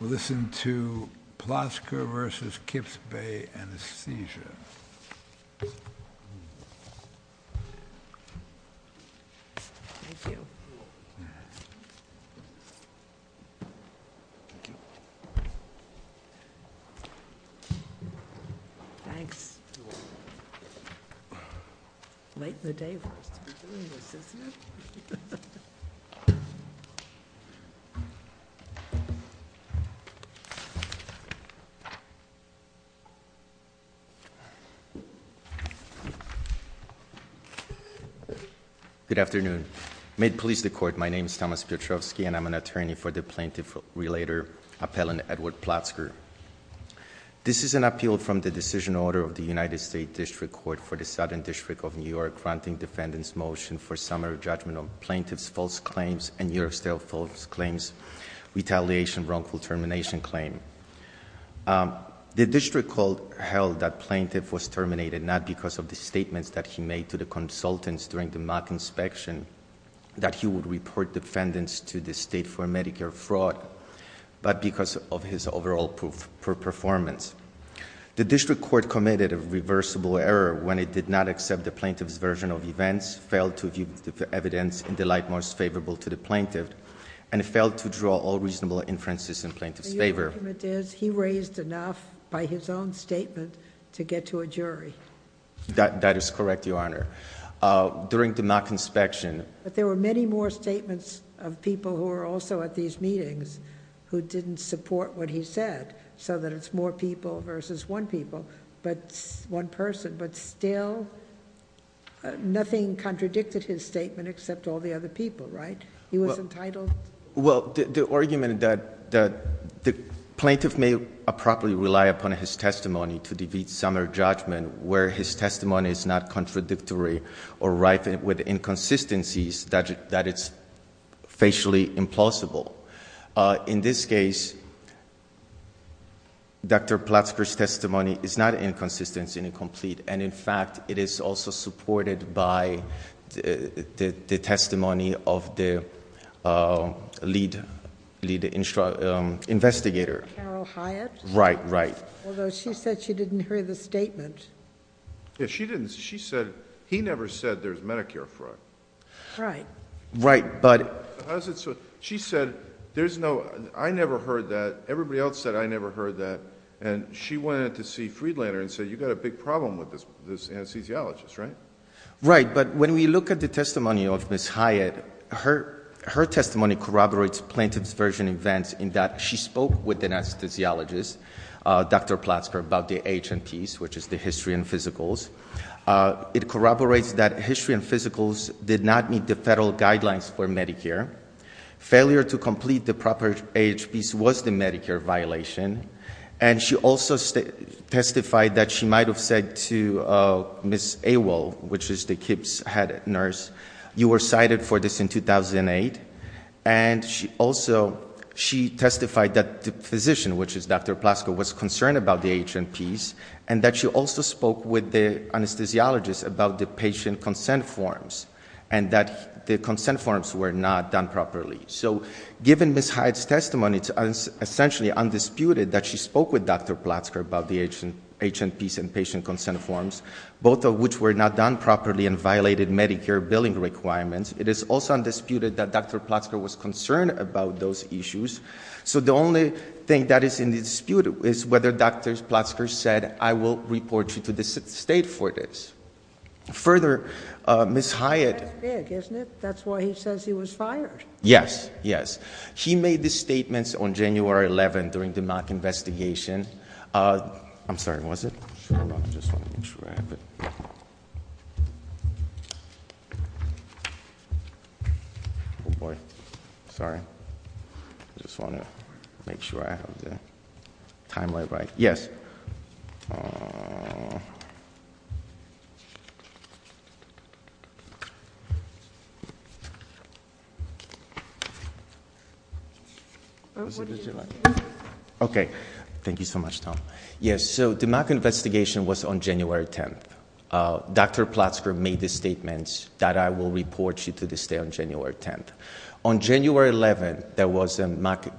We'll listen to Plotzker v. Kips Bay Anesthesia. Thank you. Thanks. Late in the day for us to be doing this, isn't it? Good afternoon. May it please the Court, my name is Thomas Piotrowski and I'm an attorney for the plaintiff-relator appellant Edward Plotzker. This is an appeal from the decision order of the United States District Court for the Southern District of New York granting defendants motion for a summary judgment of plaintiff's false claims and New York State's false claims, retaliation, wrongful termination claim. The district court held that plaintiff was terminated not because of the statements that he made to the consultants during the mock inspection, that he would report defendants to the state for Medicare fraud, but because of his overall poor performance. The district court committed a reversible error when it did not accept the plaintiff's version of events, failed to view the evidence in the light most favorable to the plaintiff, and it failed to draw all reasonable inferences in plaintiff's favor. Your argument is he raised enough by his own statement to get to a jury. That is correct, Your Honor. During the mock inspection. But there were many more statements of people who were also at these meetings who didn't support what he said. So that it's more people versus one people, but one person. But still, nothing contradicted his statement except all the other people, right? He was entitled. Well, the argument that the plaintiff may improperly rely upon his testimony to defeat summary judgment where his testimony is not contradictory or rife with inconsistencies that it's facially implausible. In this case, Dr. Platzker's testimony is not inconsistency and incomplete, and in fact, it is also supported by the testimony of the lead investigator. Carol Hyatt? Right, right. Although she said she didn't hear the statement. Yeah, she didn't. She said, he never said there's Medicare fraud. Right. Right, but- How's it so? She said, I never heard that. Everybody else said I never heard that. And she went in to see Friedlander and said, you've got a big problem with this anesthesiologist, right? Right, but when we look at the testimony of Ms. Hyatt, her testimony corroborates plaintiff's version events in that she spoke with the anesthesiologist, Dr. Platzker, about the HNPs, which is the history and physicals. It corroborates that history and physicals did not meet the federal guidelines for Medicare. Failure to complete the proper age piece was the Medicare violation. And she also testified that she might have said to Ms. Awell, which is the KIPP's head nurse, you were cited for this in 2008. And she also, she testified that the physician, which is Dr. Platzker, was concerned about the HNPs and that she also spoke with the anesthesiologist about the patient consent forms. And that the consent forms were not done properly. So given Ms. Hyatt's testimony, it's essentially undisputed that she spoke with Dr. Platzker about the HNPs and patient consent forms, both of which were not done properly and violated Medicare billing requirements. It is also undisputed that Dr. Platzker was concerned about those issues. So the only thing that is in dispute is whether Dr. Platzker said, I will report you to the state for this. Further, Ms. Hyatt- That's big, isn't it? That's why he says he was fired. Yes, yes. He made the statements on January 11th during the Mack investigation. I'm sorry, was it? I'm just going to make sure I have it. Boy, sorry, I just want to make sure I have the time right, right? Yes. What did you say? Okay, thank you so much, Tom. Yes, so the Mack investigation was on January 10th. Dr. Platzker made the statements that I will report you to the state on January 10th. On January 11th,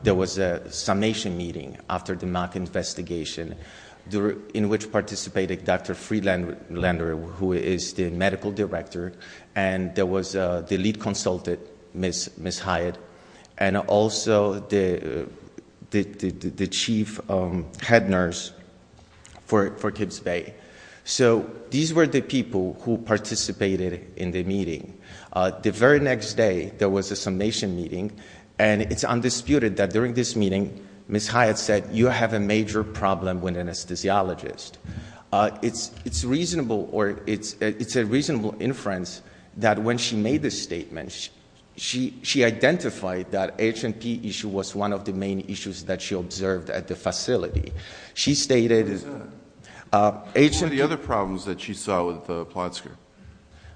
there was a summation meeting after the Mack investigation in which participated Dr. Friedlander, who is the medical director. And there was the lead consultant, Ms. Hyatt. And also the chief head nurse for Gibbs Bay. So these were the people who participated in the meeting. The very next day, there was a summation meeting. And it's undisputed that during this meeting, Ms. Hyatt said, you have a major problem with an anesthesiologist. It's reasonable, or it's a reasonable inference that when she made this statement, she identified that HNP issue was one of the main issues that she observed at the facility. She stated- What were the other problems that she saw with Platzker?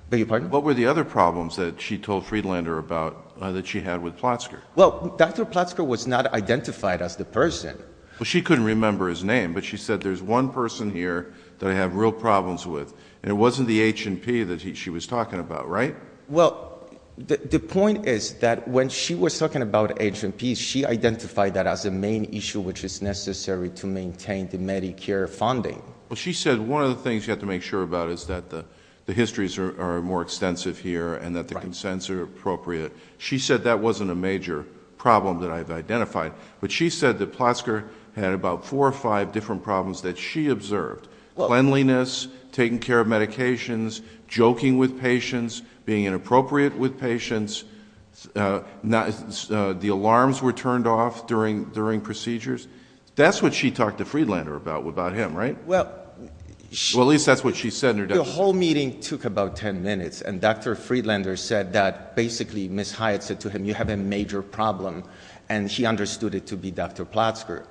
Beg your pardon? What were the other problems that she told Friedlander about that she had with Platzker? Well, Dr. Platzker was not identified as the person. Well, she couldn't remember his name, but she said there's one person here that I have real problems with. And it wasn't the HNP that she was talking about, right? Well, the point is that when she was talking about HNP, she identified that as a main issue which is necessary to maintain the Medicare funding. Well, she said one of the things you have to make sure about is that the histories are more extensive here and that the consents are appropriate. She said that wasn't a major problem that I've identified. But she said that Platzker had about four or five different problems that she observed. Cleanliness, taking care of medications, joking with patients, being inappropriate with patients. The alarms were turned off during procedures. That's what she talked to Friedlander about him, right? Well, at least that's what she said in her- The whole meeting took about ten minutes, and Dr. Friedlander said that basically, Ms. Hyatt said to him, you have a major problem, and she understood it to be Dr. Platzker.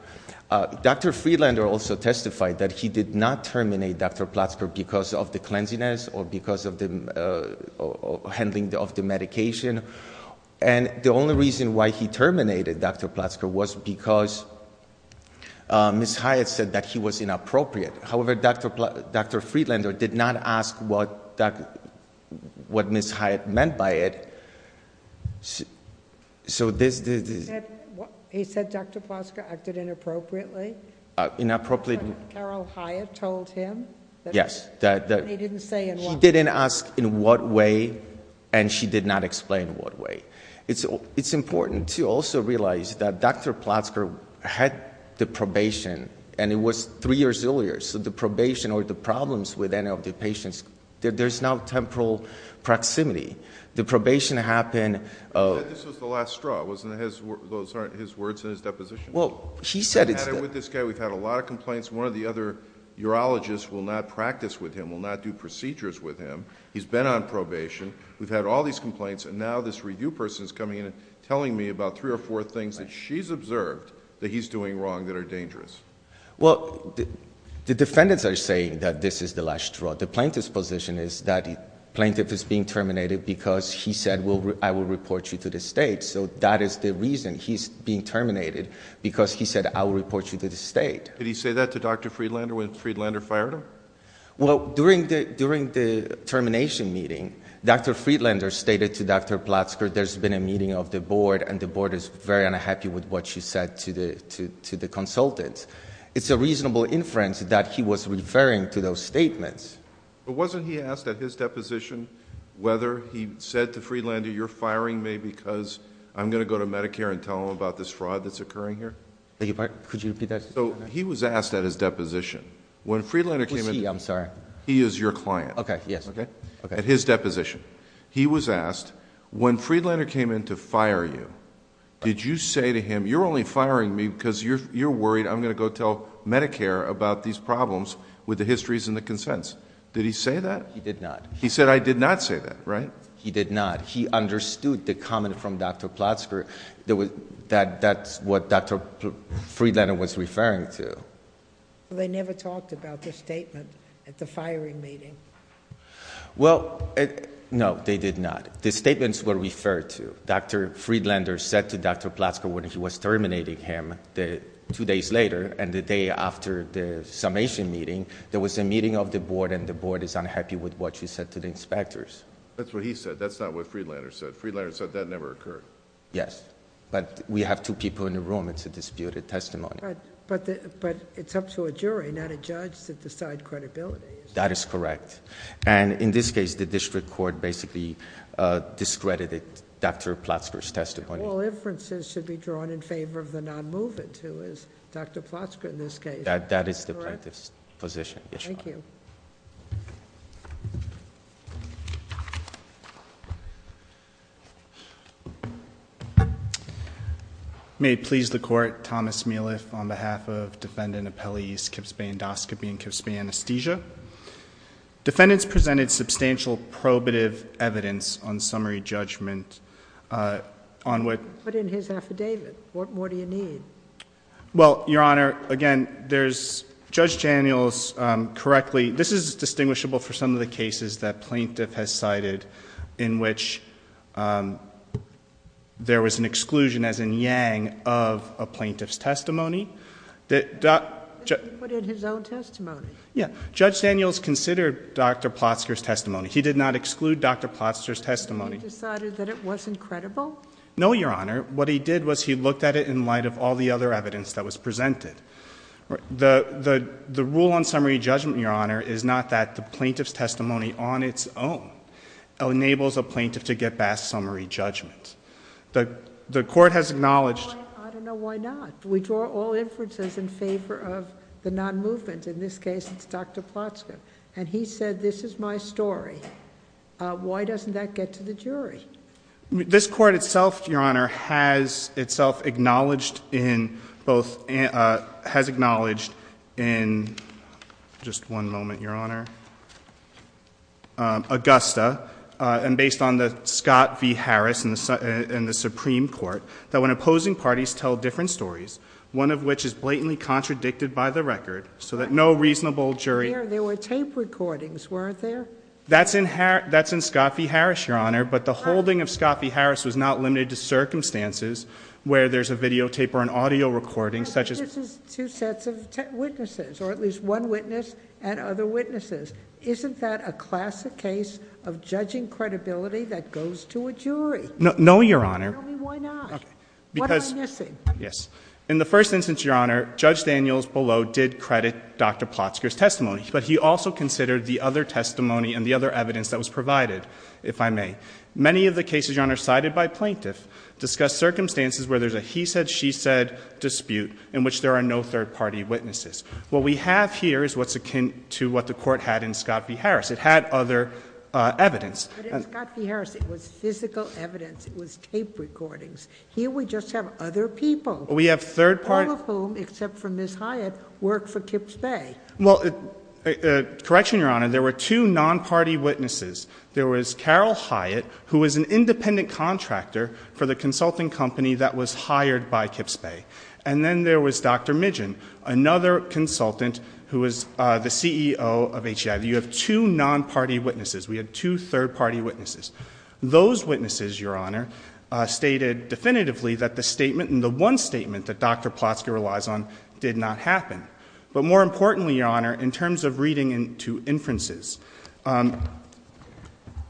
Dr. Friedlander also testified that he did not terminate Dr. Platzker because of the cleanliness or because of the handling of the medication. And the only reason why he terminated Dr. Platzker was because Ms. Hyatt said that he was inappropriate. However, Dr. Friedlander did not ask what Ms. Hyatt meant by it. So this- He said Dr. Platzker acted inappropriately? Inappropriately- Carol Hyatt told him? Yes. And he didn't say in what way? He didn't ask in what way, and she did not explain in what way. It's important to also realize that Dr. Platzker had the probation, and it was three years earlier. So the probation or the problems with any of the patients, there's no temporal proximity. The probation happened- But this was the last straw, wasn't it? Those aren't his words in his deposition? Well, he said it's- I've had it with this guy. We've had a lot of complaints. One of the other urologists will not practice with him, will not do procedures with him. He's been on probation. We've had all these complaints, and now this review person's coming in and telling me about three or four things that she's observed that he's doing wrong that are dangerous. Well, the defendants are saying that this is the last straw. The plaintiff's position is that the plaintiff is being terminated because he said, well, I will report you to the state. So that is the reason he's being terminated, because he said, I will report you to the state. Did he say that to Dr. Friedlander when Friedlander fired him? Well, during the termination meeting, Dr. Friedlander stated to Dr. Platzker, there's been a meeting of the board, and the board is very unhappy with what you said to the consultant. It's a reasonable inference that he was referring to those statements. But wasn't he asked at his deposition whether he said to Friedlander, you're firing me because I'm going to go to Medicare and tell them about this fraud that's occurring here? Could you repeat that? He was asked at his deposition. When Friedlander came in- Who's he? I'm sorry. He is your client. Okay, yes. At his deposition. He was asked, when Friedlander came in to fire you, did you say to him, you're only firing me because you're worried I'm going to go tell Medicare about these problems with the histories and the consents. Did he say that? He did not. He said, I did not say that, right? He did not. He understood the comment from Dr. Platzker that that's what Dr. Friedlander was referring to. They never talked about the statement at the firing meeting. Well, no, they did not. The statements were referred to. Dr. Friedlander said to Dr. Platzker when he was terminating him two days later and the day after the summation meeting, there was a meeting of the board and the board is unhappy with what you said to the inspectors. That's what he said. That's not what Friedlander said. Friedlander said that never occurred. Yes, but we have two people in the room. It's a disputed testimony. But it's up to a jury, not a judge, to decide credibility. That is correct. And in this case, the district court basically discredited Dr. Platzker's testimony. All inferences should be drawn in favor of the non-movement, who is Dr. Platzker in this case. That is the plaintiff's position. Thank you. May it please the court, Thomas Mealiff on behalf of defendant appellees Kips Bay Endoscopy and Kips Bay Anesthesia. Defendants presented substantial probative evidence on summary judgment on what- But in his affidavit, what more do you need? Well, your honor, again, there's, Judge Daniels, correctly, this is distinguishable for some of the cases that plaintiff has cited in which there was an exclusion, as in Yang, of a plaintiff's testimony. He put in his own testimony. Yeah, Judge Daniels considered Dr. Platzker's testimony. He did not exclude Dr. Platzker's testimony. He decided that it wasn't credible? No, your honor. What he did was he looked at it in light of all the other evidence that was presented. The rule on summary judgment, your honor, is not that the plaintiff's testimony on its own enables a plaintiff to get past summary judgment. The court has acknowledged- I don't know why not. We draw all inferences in favor of the non-movement. In this case, it's Dr. Platzker. And he said, this is my story. Why doesn't that get to the jury? This court itself, your honor, has itself acknowledged in both, has acknowledged in, just one moment, your honor, Augusta, and based on the Scott v. Harris in the Supreme Court, that when opposing parties tell different stories, one of which is blatantly contradicted by the record, so that no reasonable jury- There were tape recordings, weren't there? That's in Scott v. Harris, your honor, but the holding of Scott v. Harris was not limited to circumstances where there's a videotape or an audio recording such as- This is two sets of witnesses, or at least one witness and other witnesses. Isn't that a classic case of judging credibility that goes to a jury? No, your honor. Tell me why not. What am I missing? Yes. But he also considered the other testimony and the other evidence that was provided, if I may. Many of the cases, your honor, cited by plaintiff discuss circumstances where there's a he said, she said dispute in which there are no third party witnesses. What we have here is what's akin to what the court had in Scott v. Harris, it had other evidence. But in Scott v. Harris, it was physical evidence, it was tape recordings. Here we just have other people. We have third party- All of whom, except for Ms. Hyatt, work for Kips Bay. Well, correction, your honor, there were two non-party witnesses. There was Carol Hyatt, who was an independent contractor for the consulting company that was hired by Kips Bay. And then there was Dr. Midgeon, another consultant who was the CEO of HCI. You have two non-party witnesses. We have two third party witnesses. Those witnesses, your honor, stated definitively that the statement and the one statement that Dr. Plotsky relies on did not happen. But more importantly, your honor, in terms of reading into inferences,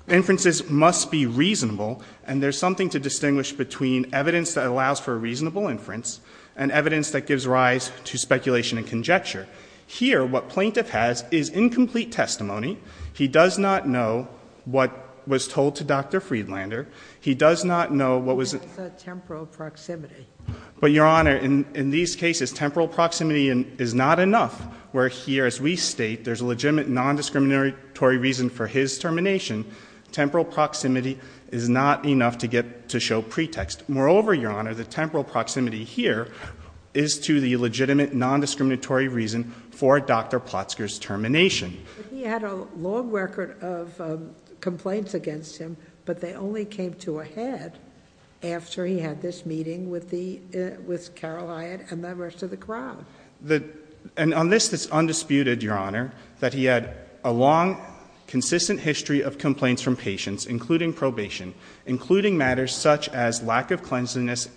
inferences must be reasonable. And there's something to distinguish between evidence that allows for a reasonable inference and evidence that gives rise to speculation and conjecture. Here, what plaintiff has is incomplete testimony. He does not know what was told to Dr. Friedlander. He does not know what was- It's a temporal proximity. But your honor, in these cases, temporal proximity is not enough. Where here, as we state, there's a legitimate non-discriminatory reason for his termination. Temporal proximity is not enough to show pretext. Moreover, your honor, the temporal proximity here is to the legitimate non-discriminatory reason for Dr. Plotsker's termination. He had a long record of complaints against him, but they only came to a head after he had this meeting with Carol Hyatt and the rest of the crowd. And on this, it's undisputed, your honor, that he had a long, consistent history of complaints from patients, including probation, including matters such as lack of cleanliness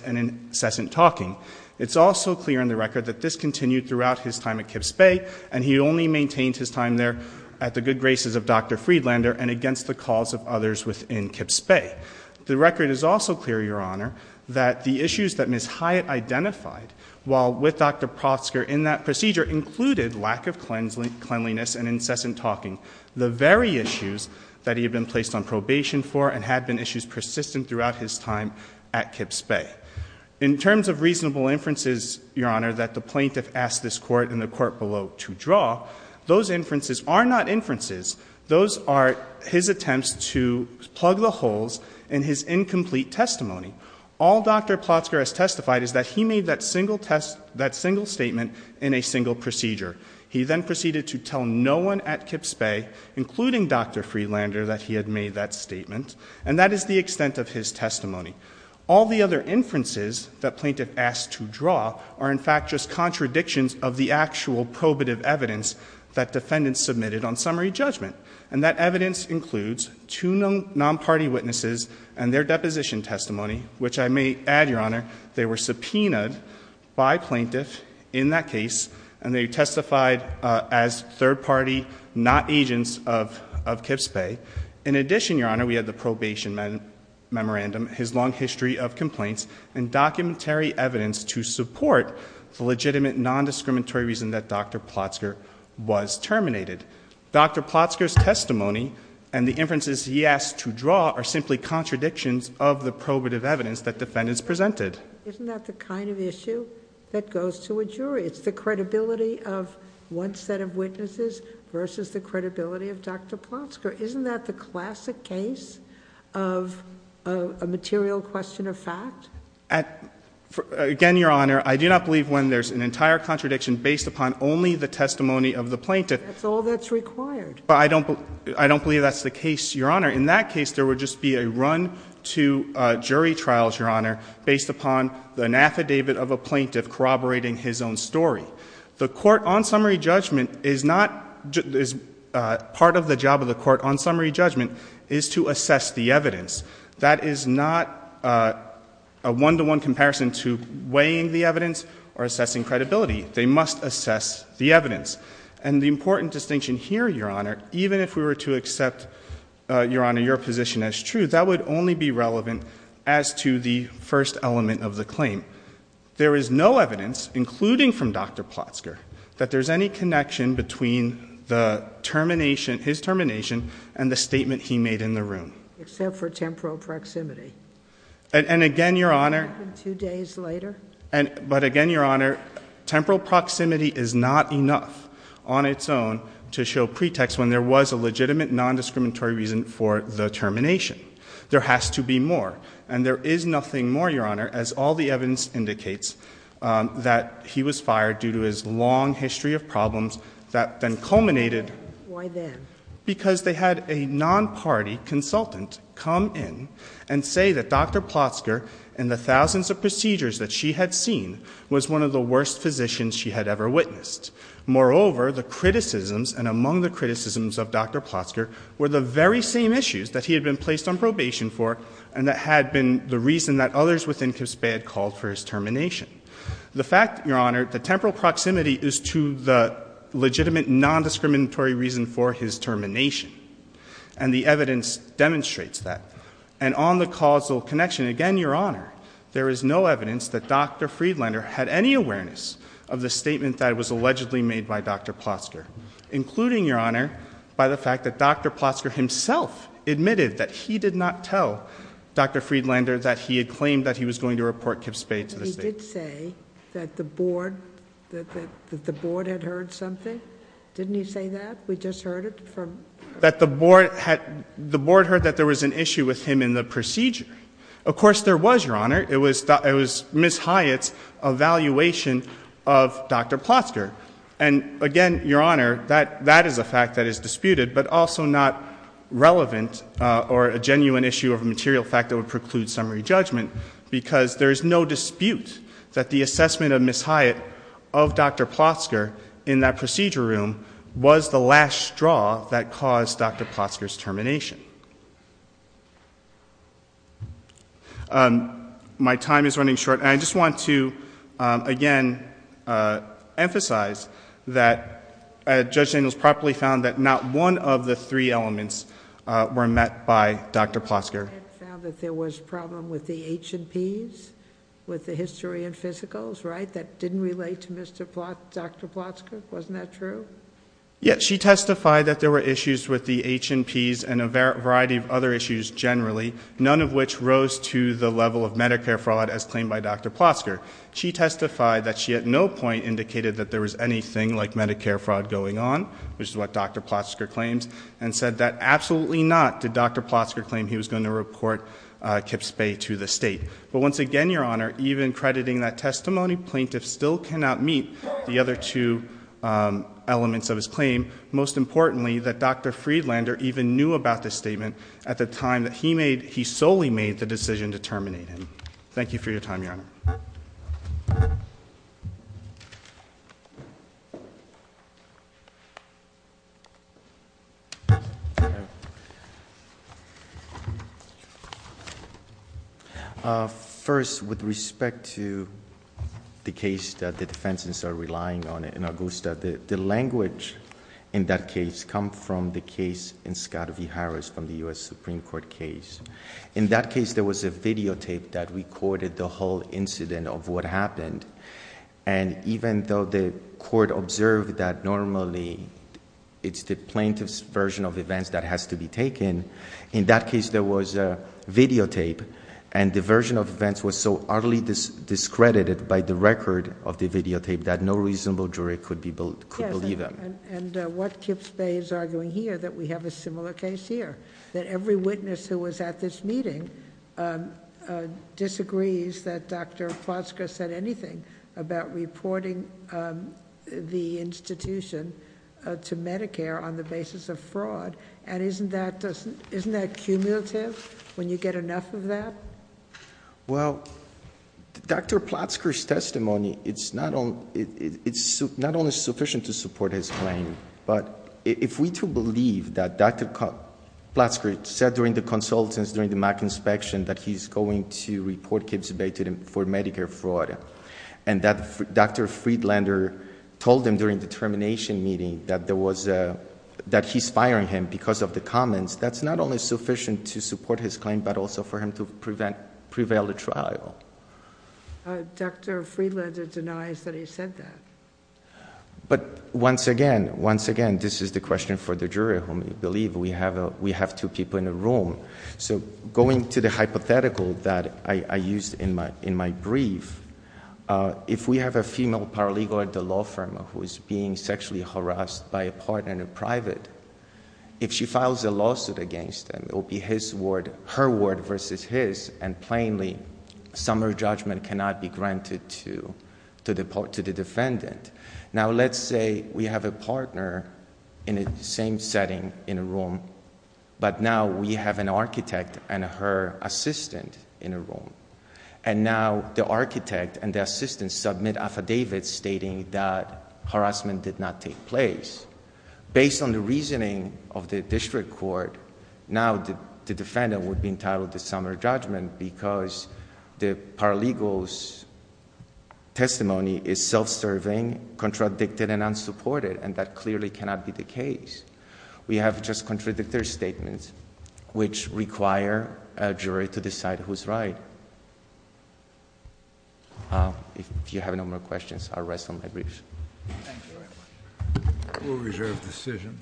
and incessant talking. It's also clear in the record that this continued throughout his time at Kips Bay, and he only maintained his time there at the good graces of Dr. Friedlander and against the calls of others within Kips Bay. The record is also clear, your honor, that the issues that Ms. Hyatt identified, while with Dr. Plotsker in that procedure, included lack of cleanliness and incessant talking. The very issues that he had been placed on probation for and had been issues persistent throughout his time at Kips Bay. In terms of reasonable inferences, your honor, that the plaintiff asked this court and the court below to draw, those inferences are not inferences. Those are his attempts to plug the holes in his incomplete testimony. All Dr. Plotsker has testified is that he made that single statement in a single procedure. He then proceeded to tell no one at Kips Bay, including Dr. Friedlander, that he had made that statement. And that is the extent of his testimony. All the other inferences that plaintiff asked to draw are, in fact, just contradictions of the actual probative evidence that defendants submitted on summary judgment. And that evidence includes two non-party witnesses and their deposition testimony, which I may add, your honor, they were subpoenaed by plaintiff in that case, and they testified as third party, not agents of Kips Bay. In addition, your honor, we have the probation memorandum, his long history of complaints, and documentary evidence to support the legitimate non-discriminatory reason that Dr. Plotsker was terminated. Dr. Plotsker's testimony and the inferences he asked to draw are simply contradictions of the probative evidence that defendants presented. Isn't that the kind of issue that goes to a jury? It's the credibility of one set of witnesses versus the credibility of Dr. Plotsker. Isn't that the classic case of a material question of fact? Again, your honor, I do not believe when there's an entire contradiction based upon only the testimony of the plaintiff. That's all that's required. I don't believe that's the case, your honor. In that case, there would just be a run to jury trials, your honor, based upon an affidavit of a plaintiff corroborating his own story. The court on summary judgment is not, part of the job of the court on summary judgment is to assess the evidence. That is not a one-to-one comparison to weighing the evidence or assessing credibility. They must assess the evidence. And the important distinction here, your honor, even if we were to accept, your honor, your position as true, that would only be relevant as to the first element of the claim. There is no evidence, including from Dr. Plotsker, that there's any connection between the termination, his termination, and the statement he made in the room. Except for temporal proximity. And again, your honor- It happened two days later. But again, your honor, temporal proximity is not enough on its own to show pretext when there was a legitimate non-discriminatory reason for the termination. There has to be more. And there is nothing more, your honor, as all the evidence indicates, that he was fired due to his long history of problems that then culminated- Why then? Because they had a non-party consultant come in and say that Dr. Plotsker, in the thousands of procedures that she had seen, was one of the worst physicians she had ever witnessed. Moreover, the criticisms, and among the criticisms of Dr. Plotsker, were the very same issues that he had been placed on probation for, and that had been the reason that others within CISBE had called for his termination. The fact, your honor, the temporal proximity is to the legitimate non-discriminatory reason for his termination, and the evidence demonstrates that. And on the causal connection, again, your honor, there is no evidence that Dr. Plotsker, including, your honor, by the fact that Dr. Plotsker himself admitted that he did not tell Dr. Friedlander that he had claimed that he was going to report Kip Spade to the state. He did say that the board had heard something. Didn't he say that? We just heard it from- That the board heard that there was an issue with him in the procedure. Of course there was, your honor. It was Ms. Hyatt's evaluation of Dr. Plotsker. And again, your honor, that is a fact that is disputed, but also not relevant or a genuine issue of a material fact that would preclude summary judgment, because there is no dispute that the assessment of Ms. Hyatt of Dr. Plotsker in that procedure room was the last straw that caused Dr. Plotsker's termination. My time is running short, and I just want to, again, emphasize that Judge Daniels properly found that not one of the three elements were met by Dr. Plotsker. Hyatt found that there was a problem with the H&Ps, with the history and physicals, right, that didn't relate to Dr. Plotsker, wasn't that true? Yes, she testified that there were issues with the H&Ps and a variety of other issues generally, none of which rose to the level of Medicare fraud as claimed by Dr. Plotsker. She testified that she at no point indicated that there was anything like Medicare fraud going on, which is what Dr. Plotsker claims, and said that absolutely not did Dr. Plotsker claim he was going to report Kips Bay to the state. But once again, your honor, even crediting that testimony, plaintiffs still cannot meet the other two elements of his claim. Most importantly, that Dr. Friedlander even knew about this statement at the time that he solely made the decision to terminate him. Thank you for your time, your honor. First, with respect to the case that the defense is relying on in Augusta, the language in that case come from the case in Scott v. Harris from the US Supreme Court case. In that case, there was a videotape that recorded the whole incident of what happened. And even though the court observed that normally it's the plaintiff's version of events that has to be taken. In that case, there was a videotape, and the version of events was so highly discredited by the record of the videotape that no reasonable jury could believe them. And what Kips Bay is arguing here, that we have a similar case here. That every witness who was at this meeting disagrees that Dr. Plotsker said anything about reporting the institution to Medicare on the basis of fraud. And isn't that cumulative, when you get enough of that? Well, Dr. Plotsker's testimony, it's not only sufficient to support his claim. But if we too believe that Dr. Plotsker said during the consultants, during the Mac inspection, that he's going to report Kips Bay for Medicare fraud. And that Dr. Friedlander told him during the termination meeting that he's firing him because of the comments. That's not only sufficient to support his claim, but also for him to prevail the trial. Dr. Friedlander denies that he said that. But once again, once again, this is the question for the jury, whom we believe we have two people in a room. So going to the hypothetical that I used in my brief, if we have a female paralegal at the law firm who is being sexually harassed by a partner in private. If she files a lawsuit against them, it will be her word versus his. And plainly, summary judgment cannot be granted to the defendant. Now let's say we have a partner in the same setting in a room. But now we have an architect and her assistant in a room. And now the architect and the assistant submit affidavits stating that harassment did not take place. Based on the reasoning of the district court, now the defendant would be entitled to summary judgment, because the paralegal's testimony is self-serving, contradicted, and unsupported, and that clearly cannot be the case. We have just contradictory statements, which require a jury to decide who's right. If you have no more questions, I'll rest on my briefs. Thank you very much. We'll reserve decision.